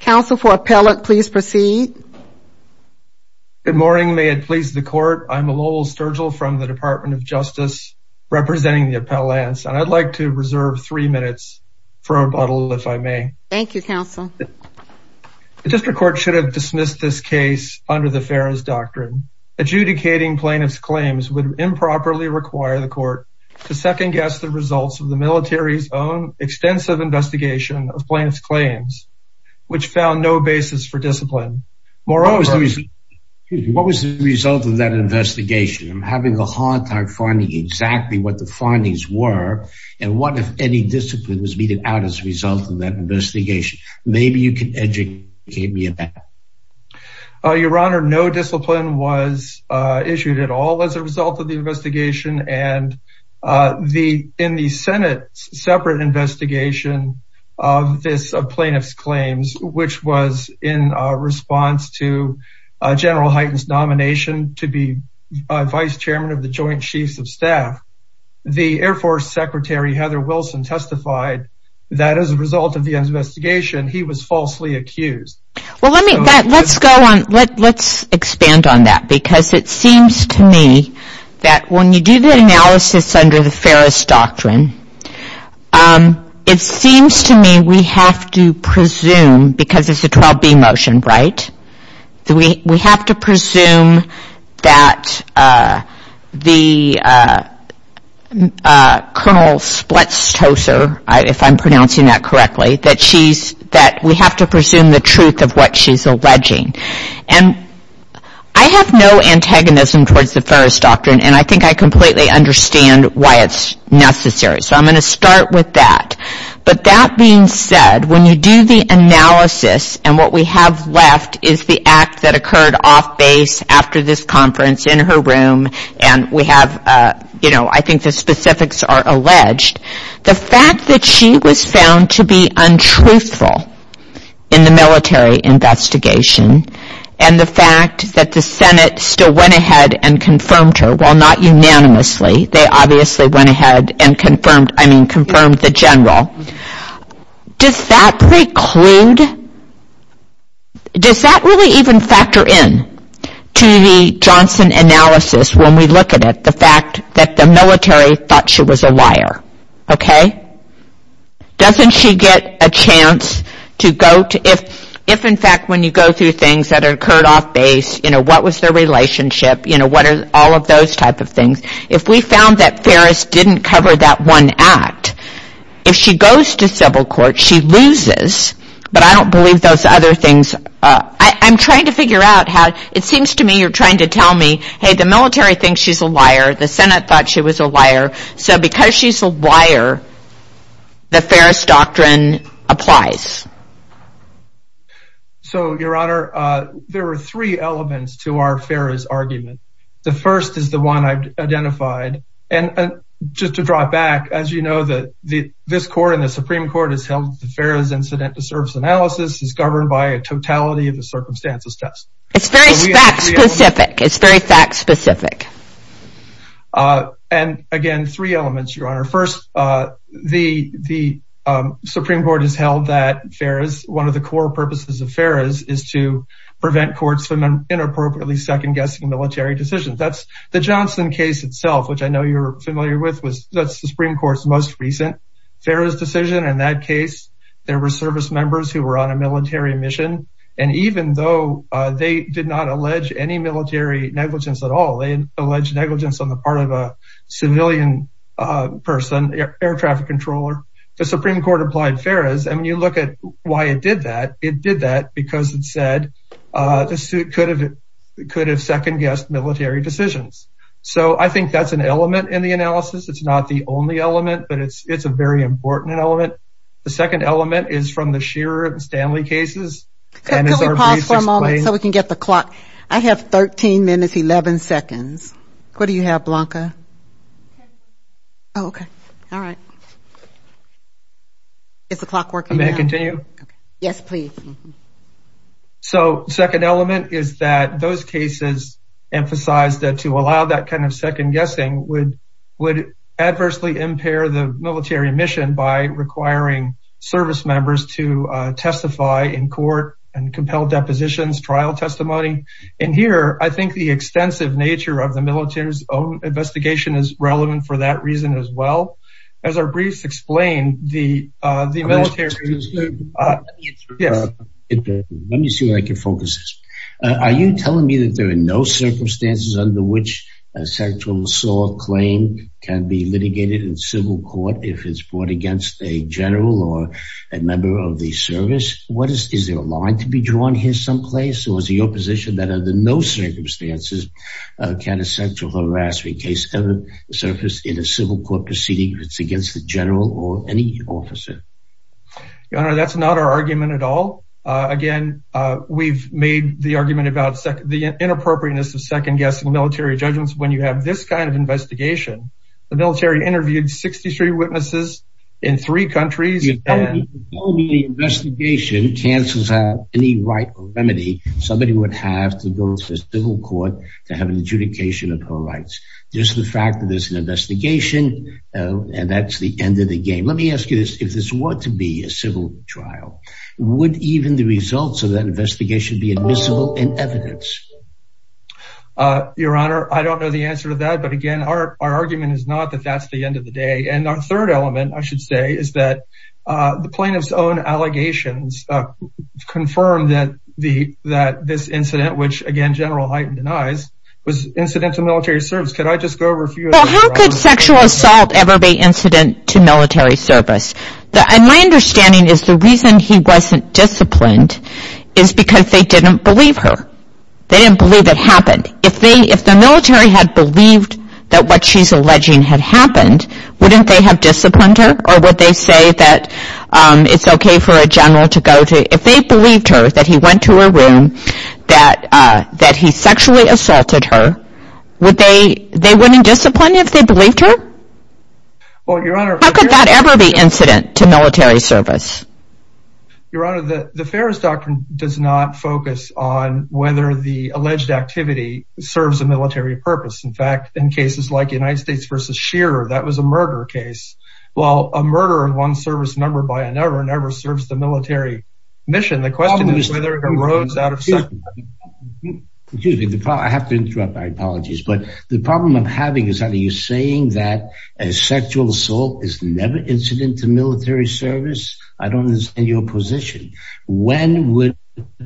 Council for appellate please proceed. Good morning may it please the court I'm a Lowell Sturgill from the Department of Justice representing the Appellants and I'd like to reserve three minutes for rebuttal if I may. Thank you counsel. The District Court should have dismissed this case under the Ferris Doctrine. Adjudicating plaintiff's claims would improperly require the court to second-guess the results of the case and to rebuttal the plaintiff's claims to the District Court. What was the result of that investigation? I'm having a hard time finding exactly what the findings were and what if any discipline was meted out as a result of that investigation. Maybe you can educate me on that. Your Honor no discipline was issued at all as a result of the investigation and the in the Senate separate investigation of this plaintiff's claims which was in response to General Hyten's nomination to be Vice Chairman of the Joint Chiefs of Staff. The Air Force Secretary Heather Wilson testified that as a result of the investigation he was falsely accused. Well let me let's go on let's expand on that because it seems to me that when you do the analysis under the Ferris Doctrine it seems to me we have to presume because it's a 12-B motion right? We have to presume that the Colonel Spletstoser if I'm pronouncing that correctly that she's that we have to presume the truth. Of what she's alleging and I have no antagonism towards the Ferris Doctrine and I think I completely understand why it's necessary so I'm going to start with that but that being said when you do the analysis and what we have left is the act that occurred off base after this conference in her room and we have you know I think the specifics are alleged. The fact that she was found to be untruthful in the military investigation and the fact that the Senate still went ahead and confirmed her well not unanimously they obviously went ahead and confirmed I mean confirmed the General. Does that preclude does that really even factor in to the Johnson analysis when we look at the fact that the military thought she was a liar okay? Doesn't she get a chance to go to if in fact when you go through things that occurred off base you know what was their relationship you know what are all of those type of things if we found that Ferris didn't cover that one act if she goes to civil court she loses but I don't believe those other things I'm trying to figure out how it seems to me you're trying to tell me hey the military thinks she's a liar the Senate thought she was a liar so because she's a liar the Ferris Doctrine applies. So your honor there are three elements to our Ferris argument the first is the one I've identified and just to draw back as you know that the this court in the Supreme Court has held the Ferris incident to surface analysis is governed by a totality of the circumstances test. It's very fact specific it's very fact specific and again three elements your honor first the the Supreme Court has held that Ferris one of the core purposes of Ferris is to prevent courts from inappropriately second-guessing military decisions. That's the Johnson case itself which I know you're familiar with was that's the Supreme Court's most recent Ferris decision in that case there were service members who were on a military mission and even though they did not allege any military negligence at all they allege negligence on the part of a civilian person air traffic controller the Supreme Court applied Ferris and when you look at why it did that it did that because it said the suit could have it could have second-guessed military decisions so I think that's an element in the analysis it's not the only element but it's it's a very important element the second element is from the Shearer and Stanley cases. Can we pause for a moment so we can get the clock I have 13 minutes 11 seconds what do you have Blanca okay all right it's a clock working may I continue yes please so second element is that those cases emphasize that to allow that kind of second-guessing would would adversely impair the military mission by requiring service members to testify in court and compel depositions trial testimony and here I think the extensive nature of the military's own investigation is relevant for that reason as well as our briefs explain the military. Are you telling me that there are no circumstances under which a sexual assault claim can be litigated in civil court if it's brought against a general or a member of the service what is is there a line to be drawn here someplace or is the opposition that under no circumstances can a sexual harassment case ever surface in a civil court proceeding if it's against the general or any officer? Your Honor that's not our argument at all again we've made the argument about the inappropriateness of second-guessing military judgments when you have this kind of investigation the military interviewed 63 witnesses in three countries. The investigation cancels out any right remedy somebody would have to go to civil court to have an adjudication of her rights just the fact that there's an investigation and that's the end of the game let me ask you this if this were to be a civil trial would even the results of that investigation be admissible in evidence? Your Honor I don't know the answer to that but again our argument is not that that's the end of the day and our third element I should say is that the plaintiff's own allegations confirmed that this incident which again General Hyten denies was incidental military service. Well how could sexual assault ever be incident to military service? My understanding is the reason he wasn't disciplined is because they didn't believe her they didn't believe it happened if they if the military had believed that what she's alleging had happened wouldn't they have disciplined her or would they say that it's okay for a general to go to if they believed her that he went to her room that that he sexually assaulted her would they they wouldn't discipline if they believed her? How could that ever be incident to military service? Your Honor the Ferris Doctrine does not focus on whether the alleged activity serves a military purpose in fact in cases like United States versus Shearer that was a murder case while a murder of one service member by another never serves the military mission the question is whether it arose out of sight. Excuse me I have to interrupt my apologies but the problem I'm having is that are you saying that a sexual assault is never incident to military service I don't understand your position when would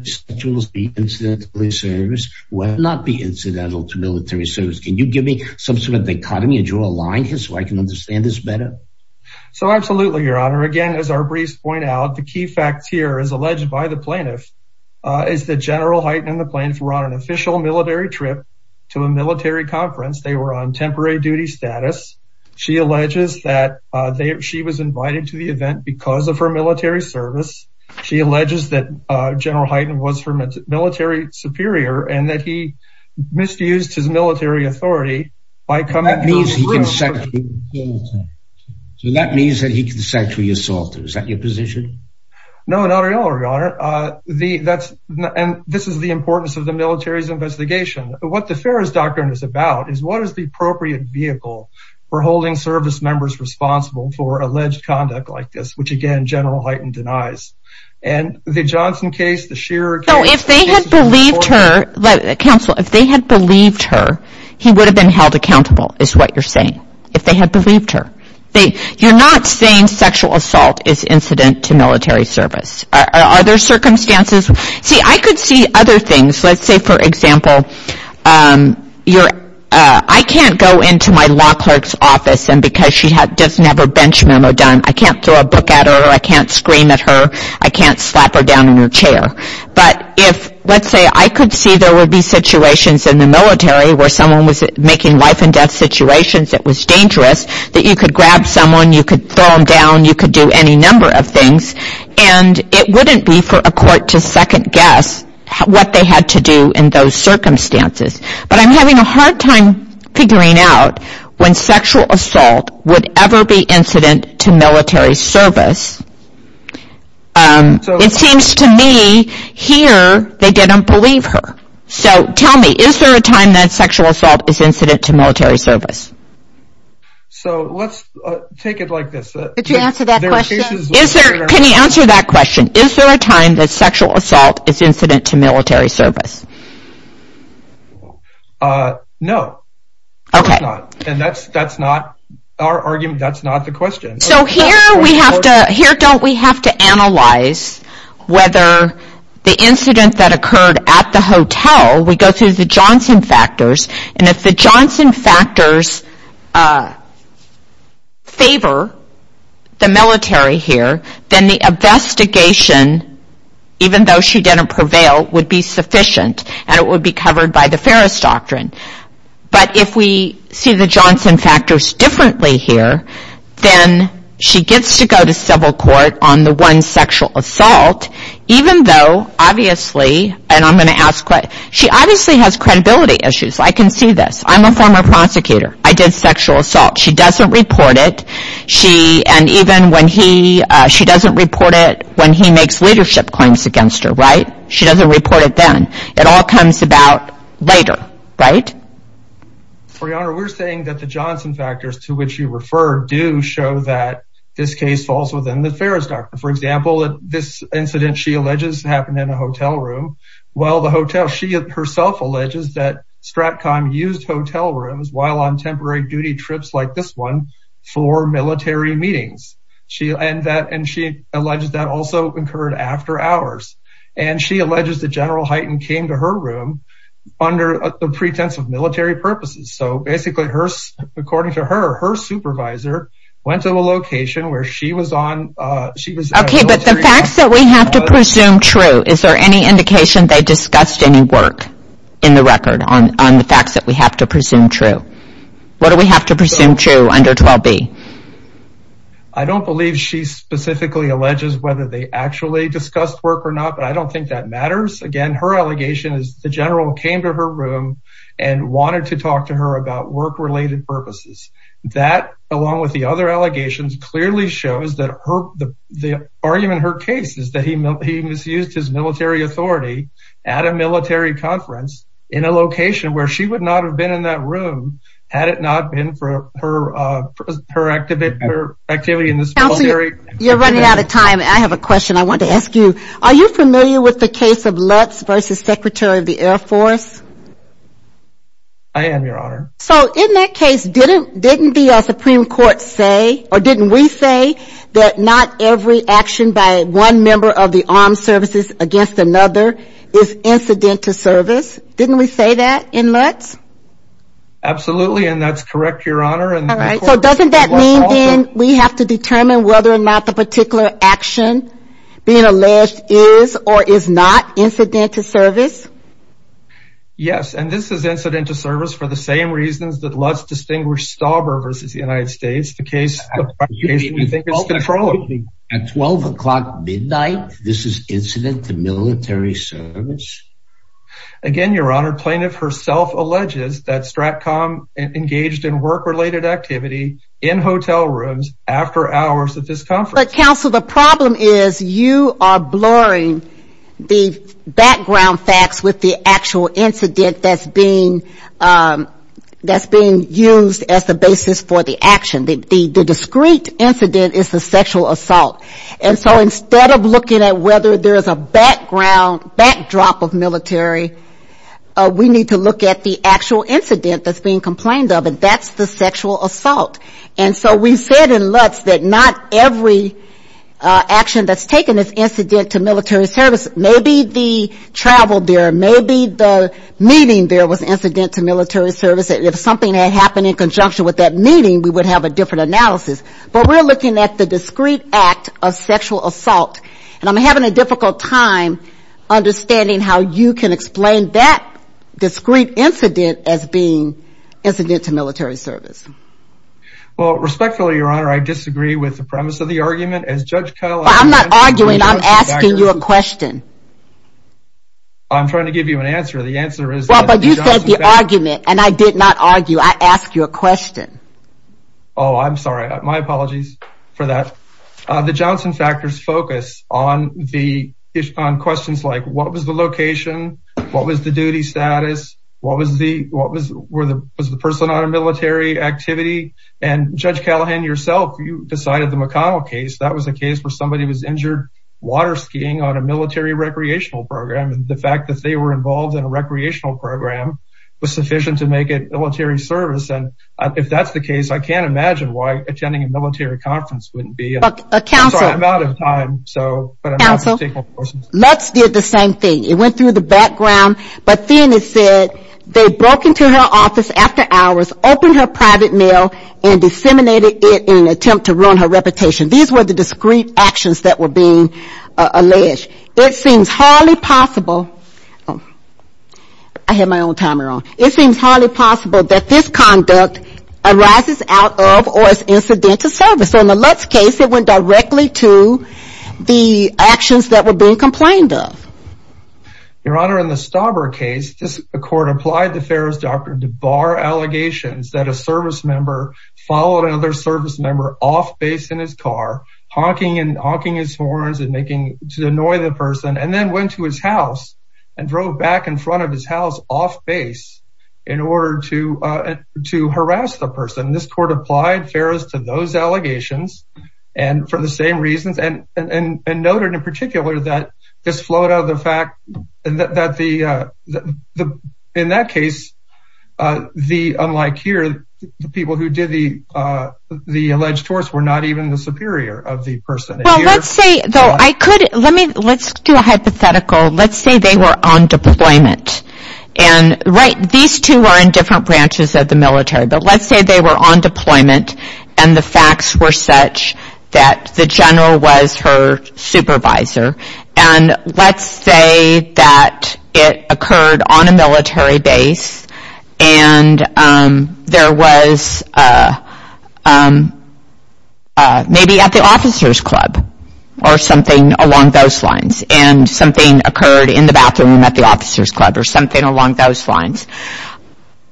sexual assault be incidentally service when not be incidental to military service can you give me some sort of dichotomy and draw a line here so I can understand this better? So absolutely Your Honor again as our briefs point out the key facts here as alleged by the plaintiff is that General Hyten and the plaintiff were on an official military trip to a military conference they were on temporary duty status she alleges that they she was invited to the event because of her military service she alleges that General Hyten was from a military superior and that he misused his military authority by coming So that means that he can sexually assault her is that your position? No not at all Your Honor and this is the importance of the military's investigation what the Ferris Doctrine is about is what is the appropriate vehicle for holding service members responsible for alleged conduct like this which again General Hyten denies and the Johnson case the Shearer case So if they had believed her counsel if they had believed her he would have been held accountable is what you're saying if they had believed her you're not saying sexual assault is incident to military service are there circumstances see I could see other things let's say for example I can't go into my law clerk's office and because she doesn't have her bench memo done I can't throw a book at her I can't scream at her I can't slap her down in her chair If let's say I could see there would be situations in the military where someone was making life and death situations that was dangerous that you could grab someone you could throw them down you could do any number of things and it wouldn't be for a court to second guess what they had to do in those circumstances but I'm having a hard time figuring out when sexual assault would ever be incident to military service It seems to me here they didn't believe her so tell me is there a time that sexual assault is incident to military service So let's take it like this can you answer that question is there a time that sexual assault is incident to military service No Okay Okay Okay Okay No obviously and I'm going to ask what she obviously has credibility issues I can see this I'm a former prosecutor I did sexual assault she doesn't report it she and even when he she doesn't report it when he makes leadership claims against her right she doesn't report it then it all comes about later right For your honor we're saying that the Johnson factors to which you refer do show that this case falls within the Ferris doctor for example that this incident she alleges happened in a hotel room while the hotel she herself alleges that Stratcom used hotel rooms while on temporary duty trips like this one for military meetings And she alleges that also occurred after hours and she alleges that General Hyten came to her room under the pretense of military purposes so basically hers according to her her supervisor went to a location where she was on she was Okay but the facts that we have to presume true is there any indication they discussed any work in the record on the facts that we have to presume true what do we have to presume true under 12b I don't believe she specifically alleges whether they actually discussed work or not but I don't think that matters again her allegation is the general came to her room and wanted to talk to her about work related purposes that along with the other allegations clearly shows that her the the argument her case is that he You're running out of time I have a question I want to ask you are you familiar with the case of Lutz versus Secretary of the Air Force I am your honor So in that case didn't didn't the Supreme Court say or didn't we say that not every action by one member of the armed services against another is incident to service didn't we say that in Lutz Absolutely and that's correct your honor and Alright so doesn't that mean then we have to determine whether or not the particular action being alleged is or is not incident to service Yes and this is incident to service for the same reasons that Lutz distinguished Stauber versus the United States the case At 12 o'clock midnight this is incident to military service Again your honor plaintiff herself alleges that STRATCOM engaged in work related activity in hotel rooms after hours of this conference But counsel the problem is you are blurring the background facts with the actual incident that's being that's being used as the basis for the action the discreet incident is the sexual assault And so instead of looking at whether there is a background backdrop of military we need to look at the actual incident that's being complained of and that's the sexual assault And so we said in Lutz that not every action that's taken is incident to military service maybe the travel there maybe the meeting there was incident to military service if something had happened in conjunction with that meeting we would have a different analysis but we're looking at the discreet act of sexual assault and I'm having a difficult time understanding how you can explain that discreet incident as being incident to military service. Well respectfully your honor I disagree with the premise of the argument as judge Kyle I'm not arguing I'm asking you a question I'm trying to give you an answer the answer is But you said the argument and I did not argue I asked you a question Oh I'm sorry my apologies for that The Johnson factors focus on the on questions like what was the location what was the duty status what was the what was the person on a military activity and judge Callahan yourself you decided the McConnell case that was a case where somebody was injured water skiing on a military recreational program and the fact that they were involved in a recreational program was sufficient to make it military service and if that's the case I can't imagine why attending a military conference wouldn't be I'm sorry I'm out of time Counsel Lutz did the same thing it went through the background but then it said they broke into her office after hours opened her private mail and disseminated it in an attempt to ruin her reputation these were the discreet actions that were being alleged it seems hardly possible I had my own timer on It seems hardly possible that this conduct arises out of or is incidental service so in the Lutz case it went directly to the actions that were being complained of Your Honor in the Stauber case this court applied the Ferris doctor to bar allegations that a service member followed another service member off base in his car honking and honking his horns and making to annoy the person and then went to his house and drove back in front of his house off base in order to to harass the person this court applied Ferris to those allegations. And for the same reasons and noted in particular that this flowed out of the fact that the in that case the unlike here the people who did the alleged torts were not even the superior of the person Well let's say though I could let me let's do a hypothetical let's say they were on deployment and right these two are in different branches of the military but let's say they were on deployment and the facts were such that the general was her supervisor and let's say that it occurred on a military base and there was maybe at the officers club Or something along those lines and something occurred in the bathroom at the officers club or something along those lines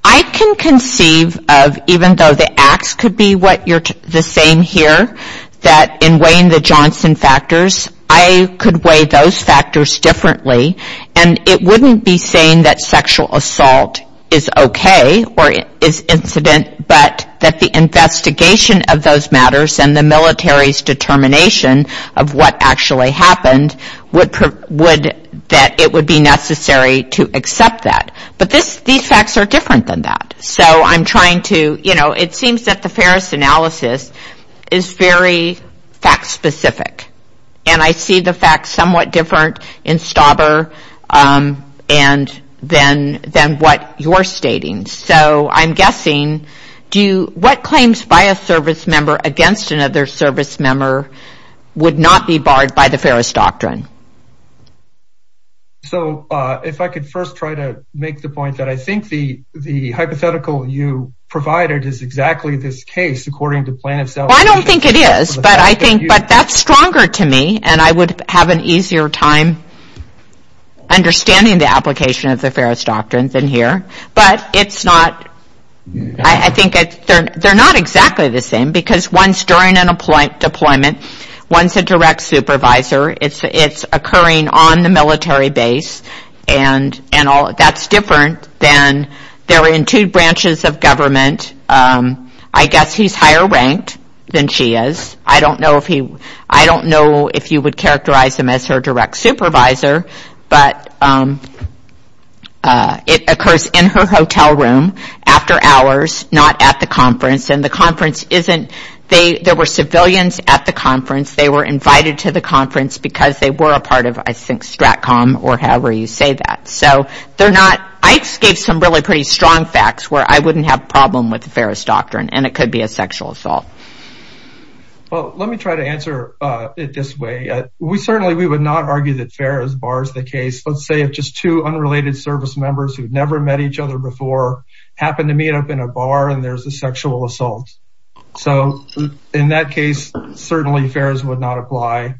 I can conceive of even though the acts could be what you're saying here that in weighing the Johnson factors I could weigh those factors differently and it wouldn't be saying that sexual assault is okay or is incident but that the investigation of those matters and the military's determination Of what actually happened would that it would be necessary to accept that but this these facts are different than that so I'm trying to you know it seems that the Ferris analysis is very fact specific and I see the fact somewhat different in Stauber and then then what you're stating so I'm guessing do you what claims by a service member against another service member Would not be barred by the Ferris doctrine. So if I could first try to make the point that I think the the hypothetical you provided is exactly this case according to plan itself. Well I don't think it is but I think but that's stronger to me and I would have an easier time understanding the application of the Ferris doctrines in here but it's not I think they're not exactly the same because once during an appointment deployment once a direct supervisor it's it's occurring on the military base and and all that's different than they're in two branches of government I guess he's higher ranked. Then she is I don't know if he I don't know if you would characterize him as her direct supervisor but it occurs in her hotel room after hours not at the conference and the conference isn't they there were civilians at the conference they were invited to the conference because they were a part of I think STRATCOM or however you say that so they're not I gave some really pretty strong facts where I wouldn't have problem with the Ferris doctrine and it could be a sexual assault. Well let me try to answer it this way we certainly we would not argue that Ferris bars the case let's say if just two unrelated service members who never met each other before happened to meet up in a bar and there's a sexual assault. So in that case certainly Ferris would not apply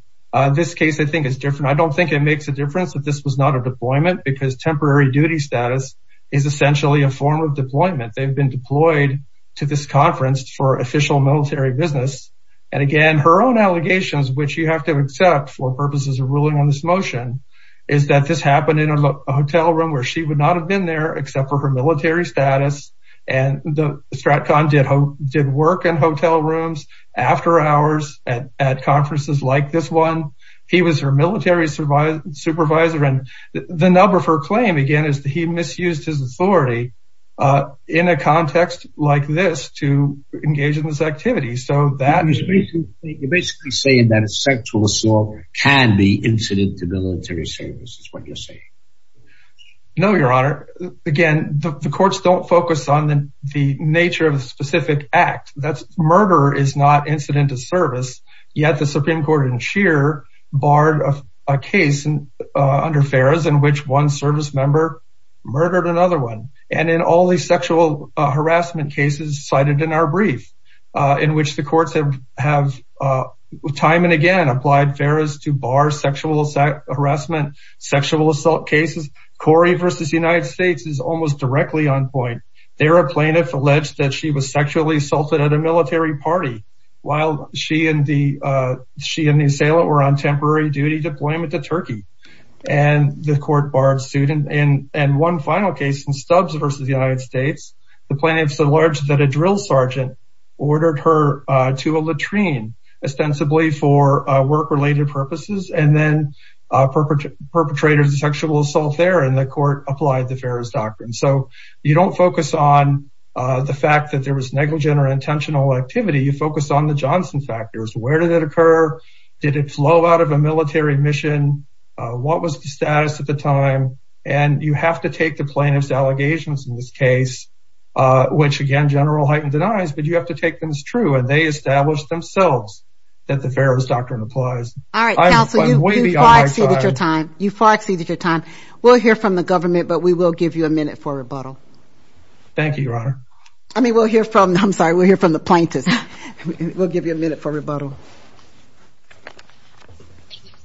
this case I think is different I don't think it makes a difference that this was not a deployment because temporary duty status is essentially a form of deployment they've been deployed to this conference for official military business and again her own allegations which you have to accept for purposes of ruling on this motion is that this happened in a hotel room where she would not have been there except for her military status and the STRATCOM did hope did work in hotel rooms after hours at conferences like this one he was her military supervisor and the number for claim again is that he misused his authority in a context like this to engage in this activity so that is basically saying that sexual assault can be incident to military service is what you're saying. No your honor again the courts don't focus on the nature of a specific act that's murder is not incident to service yet the Supreme Court in Shear barred a case under Ferris in which one service member murdered another one and in all these sexual harassment cases cited in our brief in which the courts have time and again applied Ferris to bar sexual harassment sexual assault cases. Corey versus the United States is almost directly on point there a plaintiff alleged that she was sexually assaulted at a military party while she and the she and the assailant were on temporary duty deployment to Turkey and the court barred student and and one final case in Stubbs versus the United States the plaintiffs allege that a drill sergeant ordered her to a latrine ostensibly for work related purposes and then perpetrators of sexual assault. There in the court applied the Ferris Doctrine so you don't focus on the fact that there was negligent or intentional activity you focus on the Johnson factors where did it occur did it flow out of a military mission what was the status of the time and you have to take the plaintiff's allegations in this case which again general heightened denies but you have to take them as true and they established themselves that the Ferris Doctrine applies. I'm waiting on my time. We'll hear from the government but we will give you a minute for rebuttal. Thank you your honor. I mean we'll hear from I'm sorry we'll hear from the plaintiffs. We'll give you a minute for rebuttal.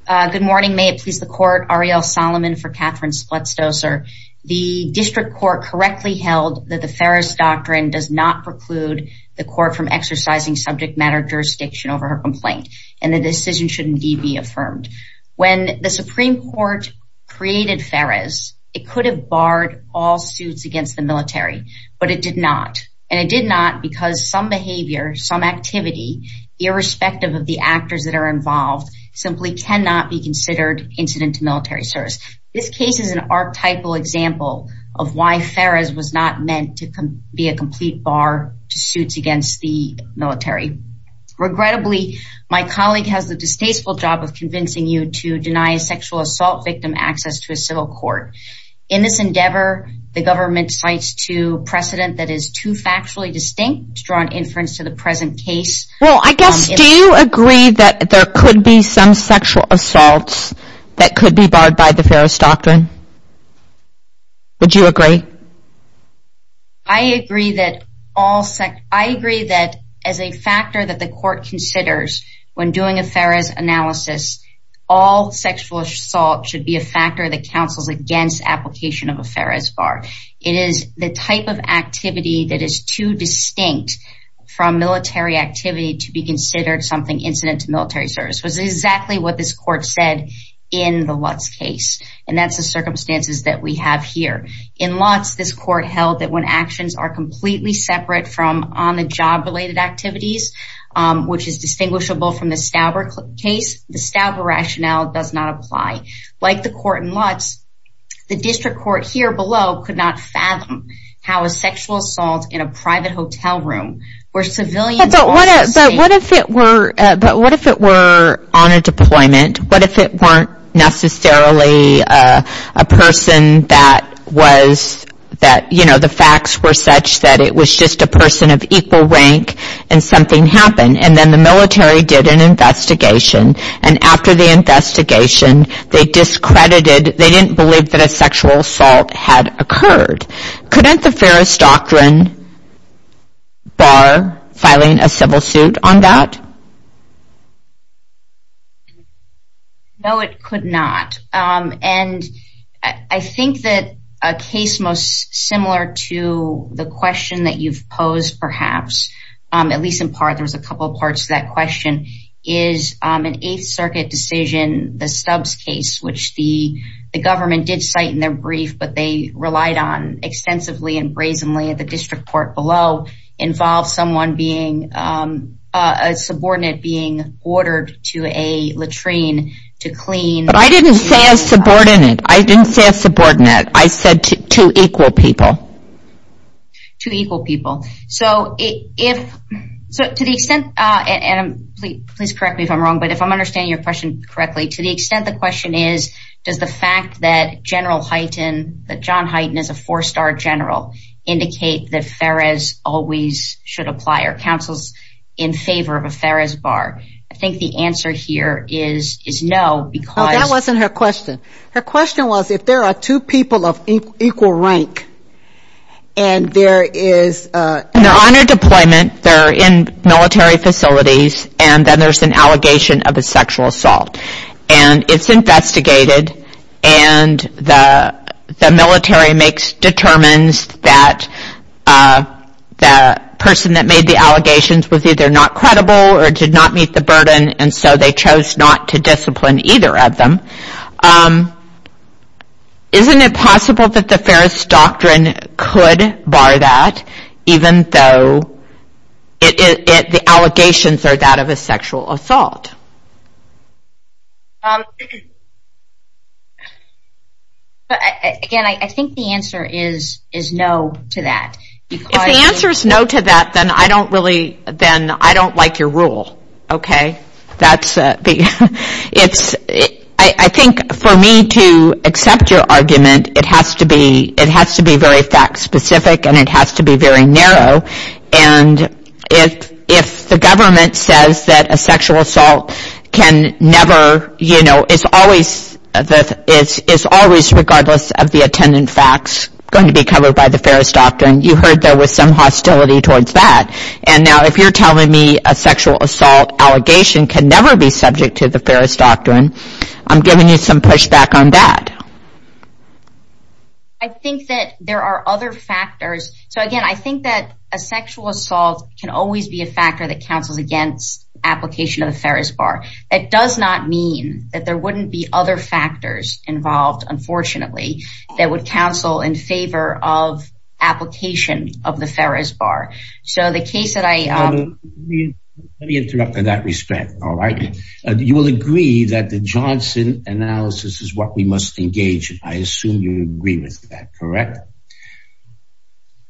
Good morning may it please the court Arielle Solomon for Catherine Spletzer the district court correctly held that the Ferris Doctrine does not preclude the court from exercising subject matter jurisdiction over her complaint, and the decision shouldn't be be affirmed when the Supreme Court created Ferris, it could have barred all suits against the military, but it did not. And it did not because some behavior some activity, irrespective of the actors that are involved, simply cannot be considered incident to military service. This case is an archetypal example of why Ferris was not meant to be a complete bar to suits against the military. Regrettably, my colleague has the distasteful job of convincing you to deny sexual assault victim access to a civil court. In this endeavor, the government cites to precedent that is too factually distinct to draw an inference to the present case. Well I guess do you agree that there could be some sexual assaults that could be barred by the Ferris Doctrine? Would you agree? I agree that as a factor that the court considers when doing a Ferris analysis, all sexual assault should be a factor that counsels against application of a Ferris bar. It is the type of activity that is too distinct from military activity to be considered something incident to military service. This is exactly what this court said in the Lutz case. And that's the circumstances that we have here. In Lutz, this court held that when actions are completely separate from on-the-job related activities, which is distinguishable from the Stauber case, the Stauber rationale does not apply. Like the court in Lutz, the district court here below could not fathom how a sexual assault in a private hotel room where civilians... But what if it were on a deployment? What if it weren't necessarily a person that was, you know, the facts were such that it was just a person of equal rank and something happened. And then the military did an investigation. And after the investigation, they discredited, they didn't believe that a sexual assault had occurred. Couldn't the Ferris doctrine bar filing a civil suit on that? No, it could not. And I think that a case most similar to the question that you've posed perhaps, at least in part, there was a couple of parts to that question, is an Eighth Circuit decision, the Stubbs case, which the government did cite in their brief, but they relied on extensively and brazenly at the district court below, involves someone being, a subordinate being ordered to a latrine to clean... But I didn't say a subordinate. I didn't say a subordinate. I said two equal people. Two equal people. So to the extent, and please correct me if I'm wrong, but if I'm understanding your question correctly, to the extent the question is, does the fact that General Hyten, that John Hyten is a four-star general, indicate that Ferris always should apply? Are councils in favor of a Ferris bar? I think the answer here is no, because... And there is... When they're on a deployment, they're in military facilities, and then there's an allegation of a sexual assault. And it's investigated, and the military makes, determines that the person that made the allegations was either not credible or did not meet the burden, and so they chose not to discipline either of them. Isn't it possible that the Ferris doctrine could bar that, even though the allegations are that of a sexual assault? Again, I think the answer is no to that. If the answer is no to that, then I don't really, then I don't like your rule. Okay, that's... It's... I think for me to accept your argument, it has to be very fact-specific, and it has to be very narrow. And if the government says that a sexual assault can never, you know, is always, regardless of the attendant facts, going to be covered by the Ferris doctrine, you heard there was some hostility towards that. And now if you're telling me a sexual assault allegation can never be subject to the Ferris doctrine, I'm giving you some pushback on that. I think that there are other factors. So again, I think that a sexual assault can always be a factor that counsels against application of the Ferris bar. It does not mean that there wouldn't be other factors involved, unfortunately, that would counsel in favor of application of the Ferris bar. So the case that I... Let me interrupt in that respect, all right? You will agree that the Johnson analysis is what we must engage in. I assume you agree with that, correct?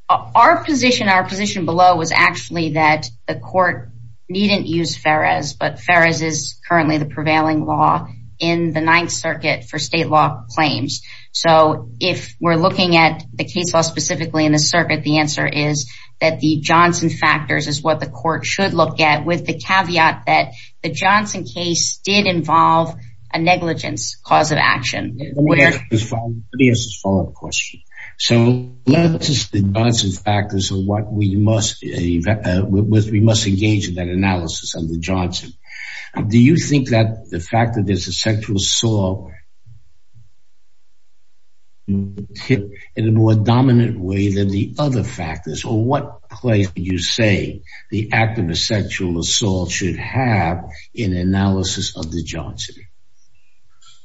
Our position, our position below, was actually that the court needn't use Ferris, but Ferris is currently the prevailing law in the Ninth Circuit for state law claims. So if we're looking at the case law specifically in the circuit, the answer is that the Johnson factors is what the court should look at, with the caveat that the Johnson case did involve a negligence cause of action. Let me ask this follow-up question. So let's just... the Johnson factors are what we must engage in that analysis under Johnson. Do you think that the fact that there's a sexual assault in a more dominant way than the other factors, or what place would you say the act of a sexual assault should have in analysis of the Johnson?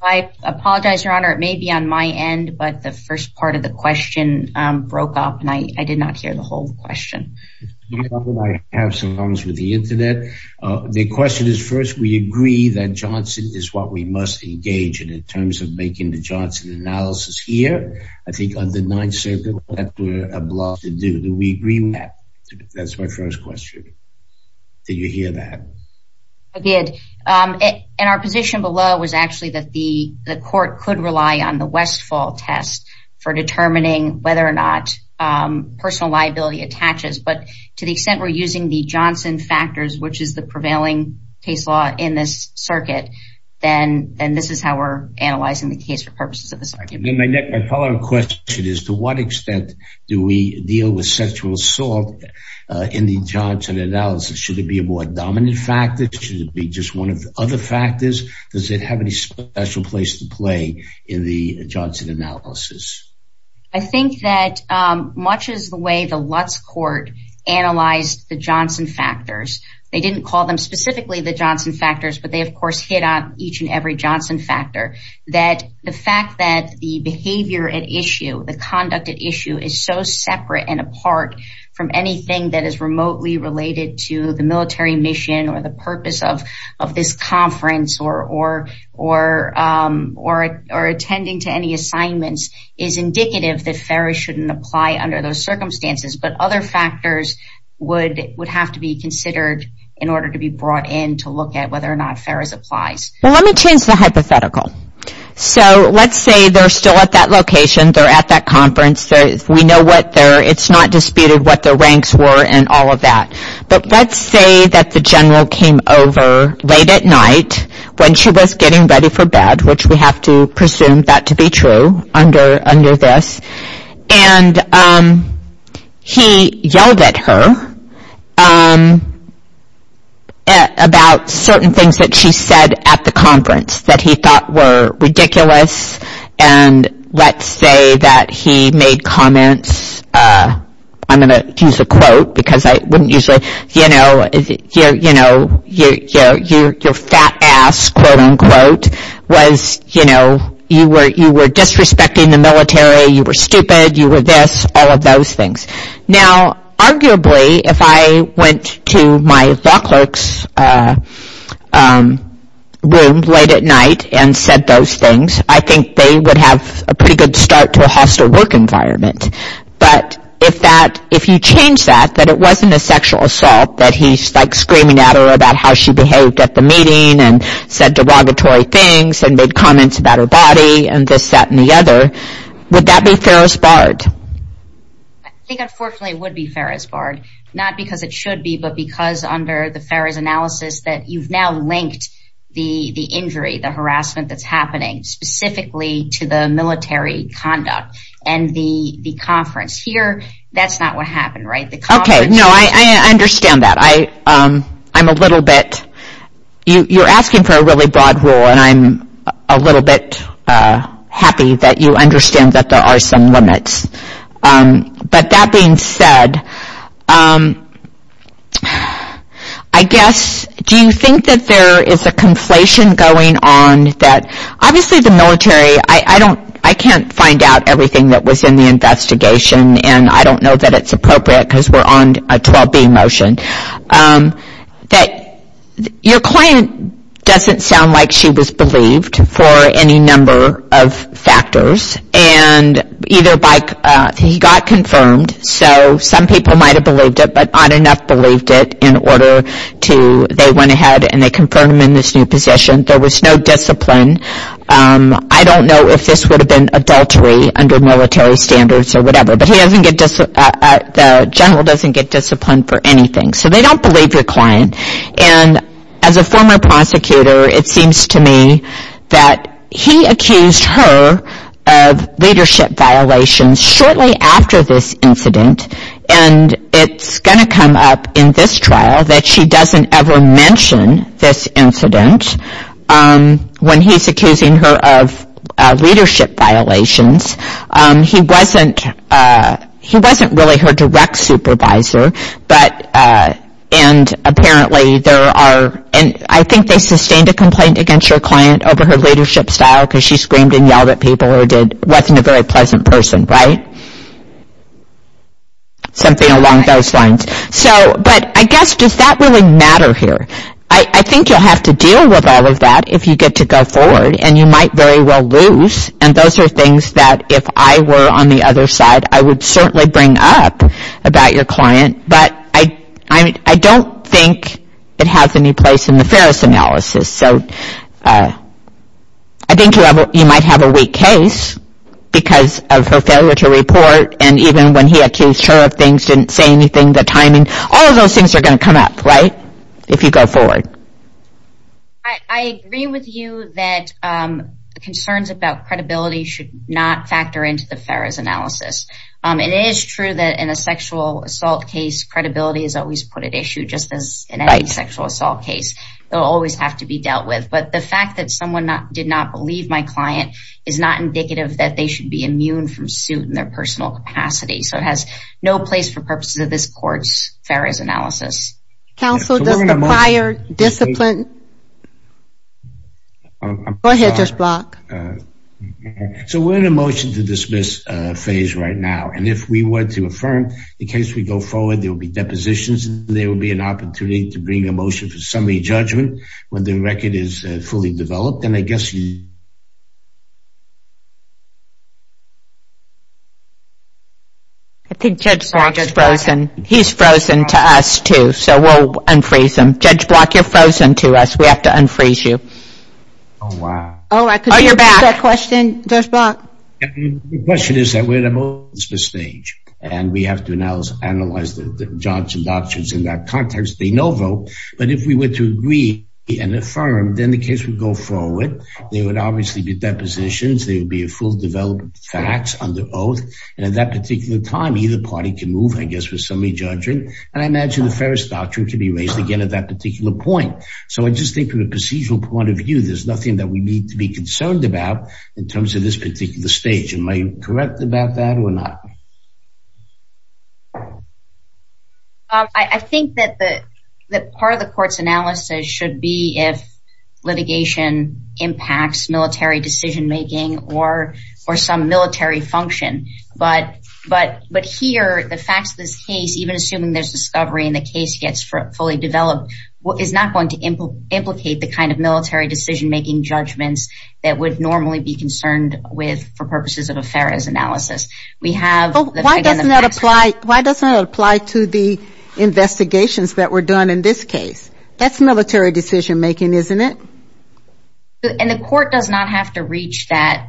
I apologize, Your Honor, it may be on my end, but the first part of the question broke up and I did not hear the whole question. I have some problems with the internet. The question is first, we agree that Johnson is what we must engage in in terms of making the Johnson analysis here. I think under Ninth Circuit, that's what we're obliged to do. Do we agree with that? That's my first question. Did you hear that? I did. Our position below was actually that the court could rely on the Westfall test for determining whether or not personal liability attaches, but to the extent we're using the Johnson factors, which is the prevailing case law in this circuit, then this is how we're analyzing the case for purposes of the circuit. My follow-up question is to what extent do we deal with sexual assault in the Johnson analysis? Should it be a more dominant factor? Should it be just one of the other factors? Does it have any special place to play in the Johnson analysis? I think that much as the way the Lutz court analyzed the Johnson factors, they didn't call them specifically the Johnson factors, but they, of course, hit on each and every Johnson factor, that the fact that the behavior at issue, the conduct at issue, is so separate and apart from anything that is remotely related to the military mission or the purpose of this conference or attending to any assignments is indicative that Ferris shouldn't apply under those circumstances, but other factors would have to be considered in order to be brought in to look at whether or not Ferris applies. Let me change the hypothetical. Let's say they're still at that location, they're at that conference. We know what their, it's not disputed what their ranks were and all of that, but let's say that the general came over late at night when she was getting ready for bed, which we have to presume that to be true under this, and he yelled at her about certain things that she said at the conference that he thought were ridiculous, and let's say that he made comments, I'm going to use a quote because I wouldn't usually, you know, your fat ass, quote unquote, was, you know, you were disrespecting the military, you were stupid, you were this, all of those things. Now, arguably, if I went to my law clerk's room late at night and said those things, I think they would have a pretty good start to a hostile work environment, but if that, if you change that, that it wasn't a sexual assault, that he's like screaming at her about how she behaved at the meeting and said derogatory things and made comments about her body and this, that, and the other, would that be Ferris Barred? I think unfortunately it would be Ferris Barred, not because it should be, but because under the Ferris analysis that you've now linked the injury, the harassment that's happening specifically to the military conduct and the conference. Here, that's not what happened, right? Okay, no, I understand that. I'm a little bit, you're asking for a really broad rule, and I'm a little bit happy that you understand that there are some limits, but that being said, I guess, do you think that there is a conflation going on that, obviously the military, I don't, I can't find out everything that was in the investigation, and I don't know that it's appropriate because we're on a 12B motion, that your client doesn't sound like she was believed for any number of factors, and either by, he got confirmed, so some people might have believed it, but not enough believed it in order to, they went ahead and they confirmed him in this new position. There was no discipline. I don't know if this would have been adultery under military standards or whatever, but he doesn't get, the general doesn't get disciplined for anything, so they don't believe your client, and as a former prosecutor, it seems to me that he accused her of leadership violations shortly after this incident, and it's going to come up in this trial that she doesn't ever mention this incident when he's accusing her of leadership violations. He wasn't really her direct supervisor, but, and apparently there are, and I think they sustained a complaint against your client over her leadership style because she screamed and yelled at people or wasn't a very pleasant person, right? Something along those lines. So, but I guess, does that really matter here? I think you'll have to deal with all of that if you get to go forward, and you might very well lose, and those are things that if I were on the other side, I would certainly bring up about your client, but I don't think it has any place in the Ferris analysis, so I think you might have a weak case because of her failure to report, and even when he accused her of things, didn't say anything, the timing, all of those things are going to come up, right, if you go forward. I agree with you that concerns about credibility should not factor into the Ferris analysis. It is true that in a sexual assault case, credibility is always put at issue just as in any sexual assault case. It will always have to be dealt with, but the fact that someone did not believe my client is not indicative that they should be immune from suit in their personal capacity, so it has no place for purposes of this court's Ferris analysis. Counsel, does the prior discipline? Go ahead, Judge Block. So we're in a motion to dismiss phase right now, and if we were to affirm the case we go forward, there will be depositions, and there will be an opportunity to bring a motion for summary judgment when the record is fully developed, and I guess you... I think Judge Block is frozen. He's frozen to us, too, so we'll unfreeze him. Judge Block, you're frozen to us. We have to unfreeze you. Oh, wow. Oh, you're back. Question, Judge Block. The question is that we're in a motion to dismiss stage, and we have to analyze the judges and doctors in that context. They no vote, but if we were to agree and affirm, then the case would go forward. There would obviously be depositions. There would be a full development of facts under oath, and at that particular time, either party can move, I guess, for summary judgment, and I imagine the Ferris doctrine can be raised again at that particular point. So I just think from a procedural point of view, there's nothing that we need to be concerned about in terms of this particular stage. Am I correct about that or not? I think that part of the court's analysis should be if litigation impacts military decision-making or some military function. But here, the facts of this case, even assuming there's discovery and the case gets fully developed, is not going to implicate the kind of military decision-making judgments that would normally be concerned with for purposes of a Ferris analysis. Why doesn't that apply to the investigations that were done in this case? That's military decision-making, isn't it? And the court does not have to reach that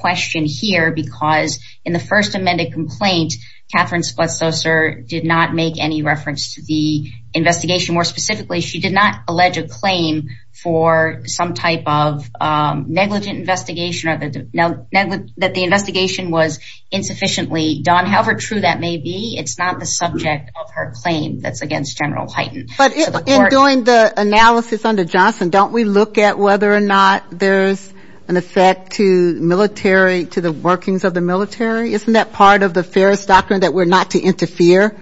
question here because in the first amended complaint, Catherine Splett-Saucer did not make any reference to the investigation. More specifically, she did not allege a claim for some type of negligent investigation or that the investigation was insufficiently done. However true that may be, it's not the subject of her claim that's against General Hyten. But in doing the analysis under Johnson, don't we look at whether or not there's an effect to the workings of the military? Isn't that part of the Ferris doctrine that we're not to interfere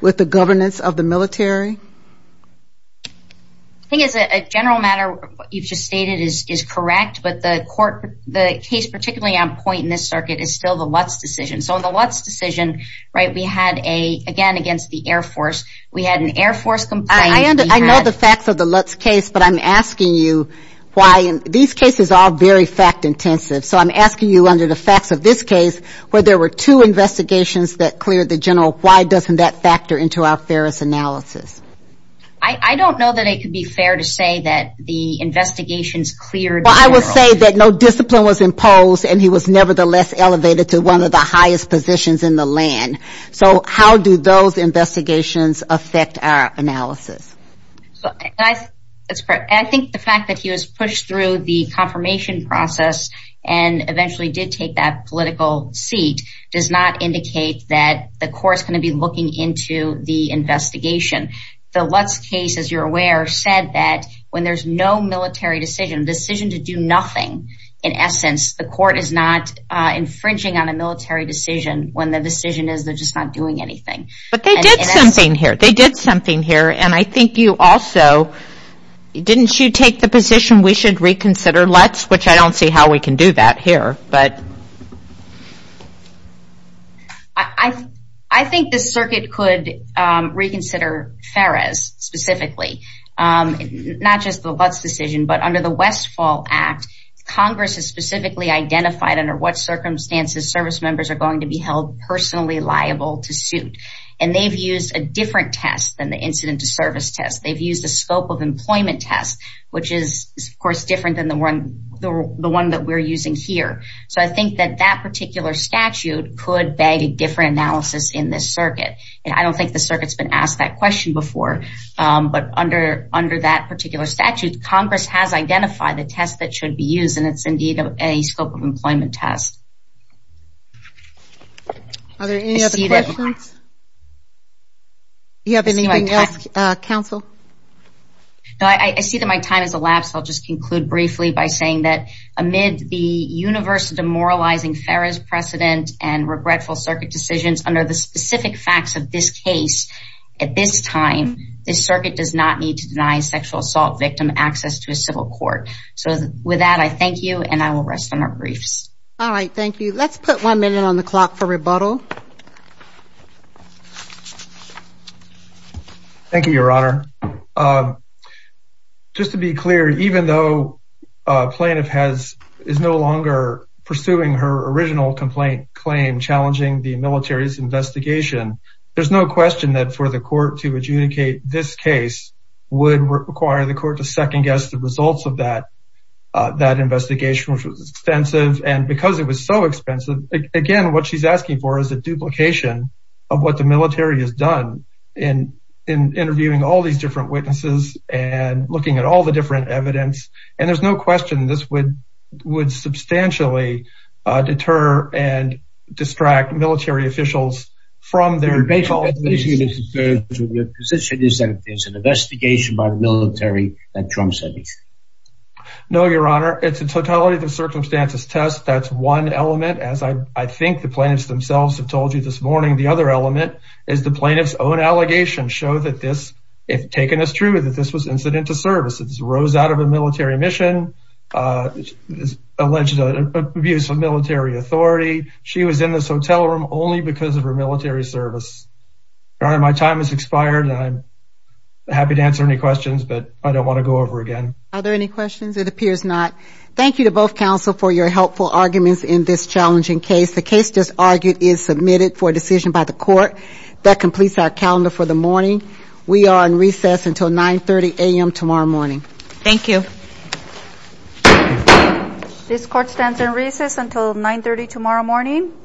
with the governance of the military? I think as a general matter, what you've just stated is correct, but the case particularly on point in this circuit is still the Lutz decision. So in the Lutz decision, we had, again, against the Air Force. We had an Air Force complaint. I know the facts of the Lutz case, but I'm asking you why. These cases are very fact-intensive, so I'm asking you under the facts of this case where there were two investigations that cleared the general, why doesn't that factor into our Ferris analysis? I don't know that it could be fair to say that the investigations cleared the general. Well, I would say that no discipline was imposed and he was nevertheless elevated to one of the highest positions in the land. So how do those investigations affect our analysis? I think the fact that he was pushed through the confirmation process and eventually did take that political seat does not indicate that the court's going to be looking into the investigation. The Lutz case, as you're aware, said that when there's no military decision, a decision to do nothing, in essence, the court is not infringing on a military decision when the decision is they're just not doing anything. But they did something here. They did something here, and I think you also, didn't you take the position we should reconsider Lutz, which I don't see how we can do that here. I think the circuit could reconsider Ferris specifically, not just the Lutz decision, but under the Westfall Act, Congress has specifically identified under what circumstances service members are going to be held personally liable to suit. And they've used a different test than the incident to service test. They've used a scope of employment test, which is, of course, different than the one that we're using here. So I think that that particular statute could beg a different analysis in this circuit. I don't think the circuit's been asked that question before, but under that particular statute, Congress has identified the test that should be used, and it's indeed a scope of employment test. Are there any other questions? Do you have anything else, counsel? No, I see that my time has elapsed. I'll just conclude briefly by saying that amid the universe demoralizing Ferris precedent and regretful circuit decisions, under the specific facts of this case, at this time, this circuit does not need to deny a sexual assault victim access to a civil court. So with that, I thank you, and I will rest on our briefs. All right, thank you. Let's put one minute on the clock for rebuttal. Thank you, Your Honor. Just to be clear, even though a plaintiff is no longer pursuing her original complaint claim, challenging the military's investigation, there's no question that for the court to adjudicate this case would require the court to second-guess the results of that investigation, which was extensive. And because it was so expensive, again, what she's asking for is a duplication of what the military has done in interviewing all these different witnesses and looking at all the different evidence. And there's no question this would substantially deter and distract military officials from their— Your position is that it's an investigation by the military that trumps anything? No, Your Honor. It's a totality of the circumstances test. That's one element. As I think the plaintiffs themselves have told you this morning, the other element is the plaintiff's own allegations show that this, if taken as true, that this was incident to service. This rose out of a military mission, alleged abuse of military authority. She was in this hotel room only because of her military service. Your Honor, my time has expired, and I'm happy to answer any questions, but I don't want to go over again. Are there any questions? It appears not. Thank you to both counsel for your helpful arguments in this challenging case. The case just argued is submitted for decision by the court. That completes our calendar for the morning. We are in recess until 9.30 a.m. tomorrow morning. Thank you. This court stands in recess until 9.30 tomorrow morning.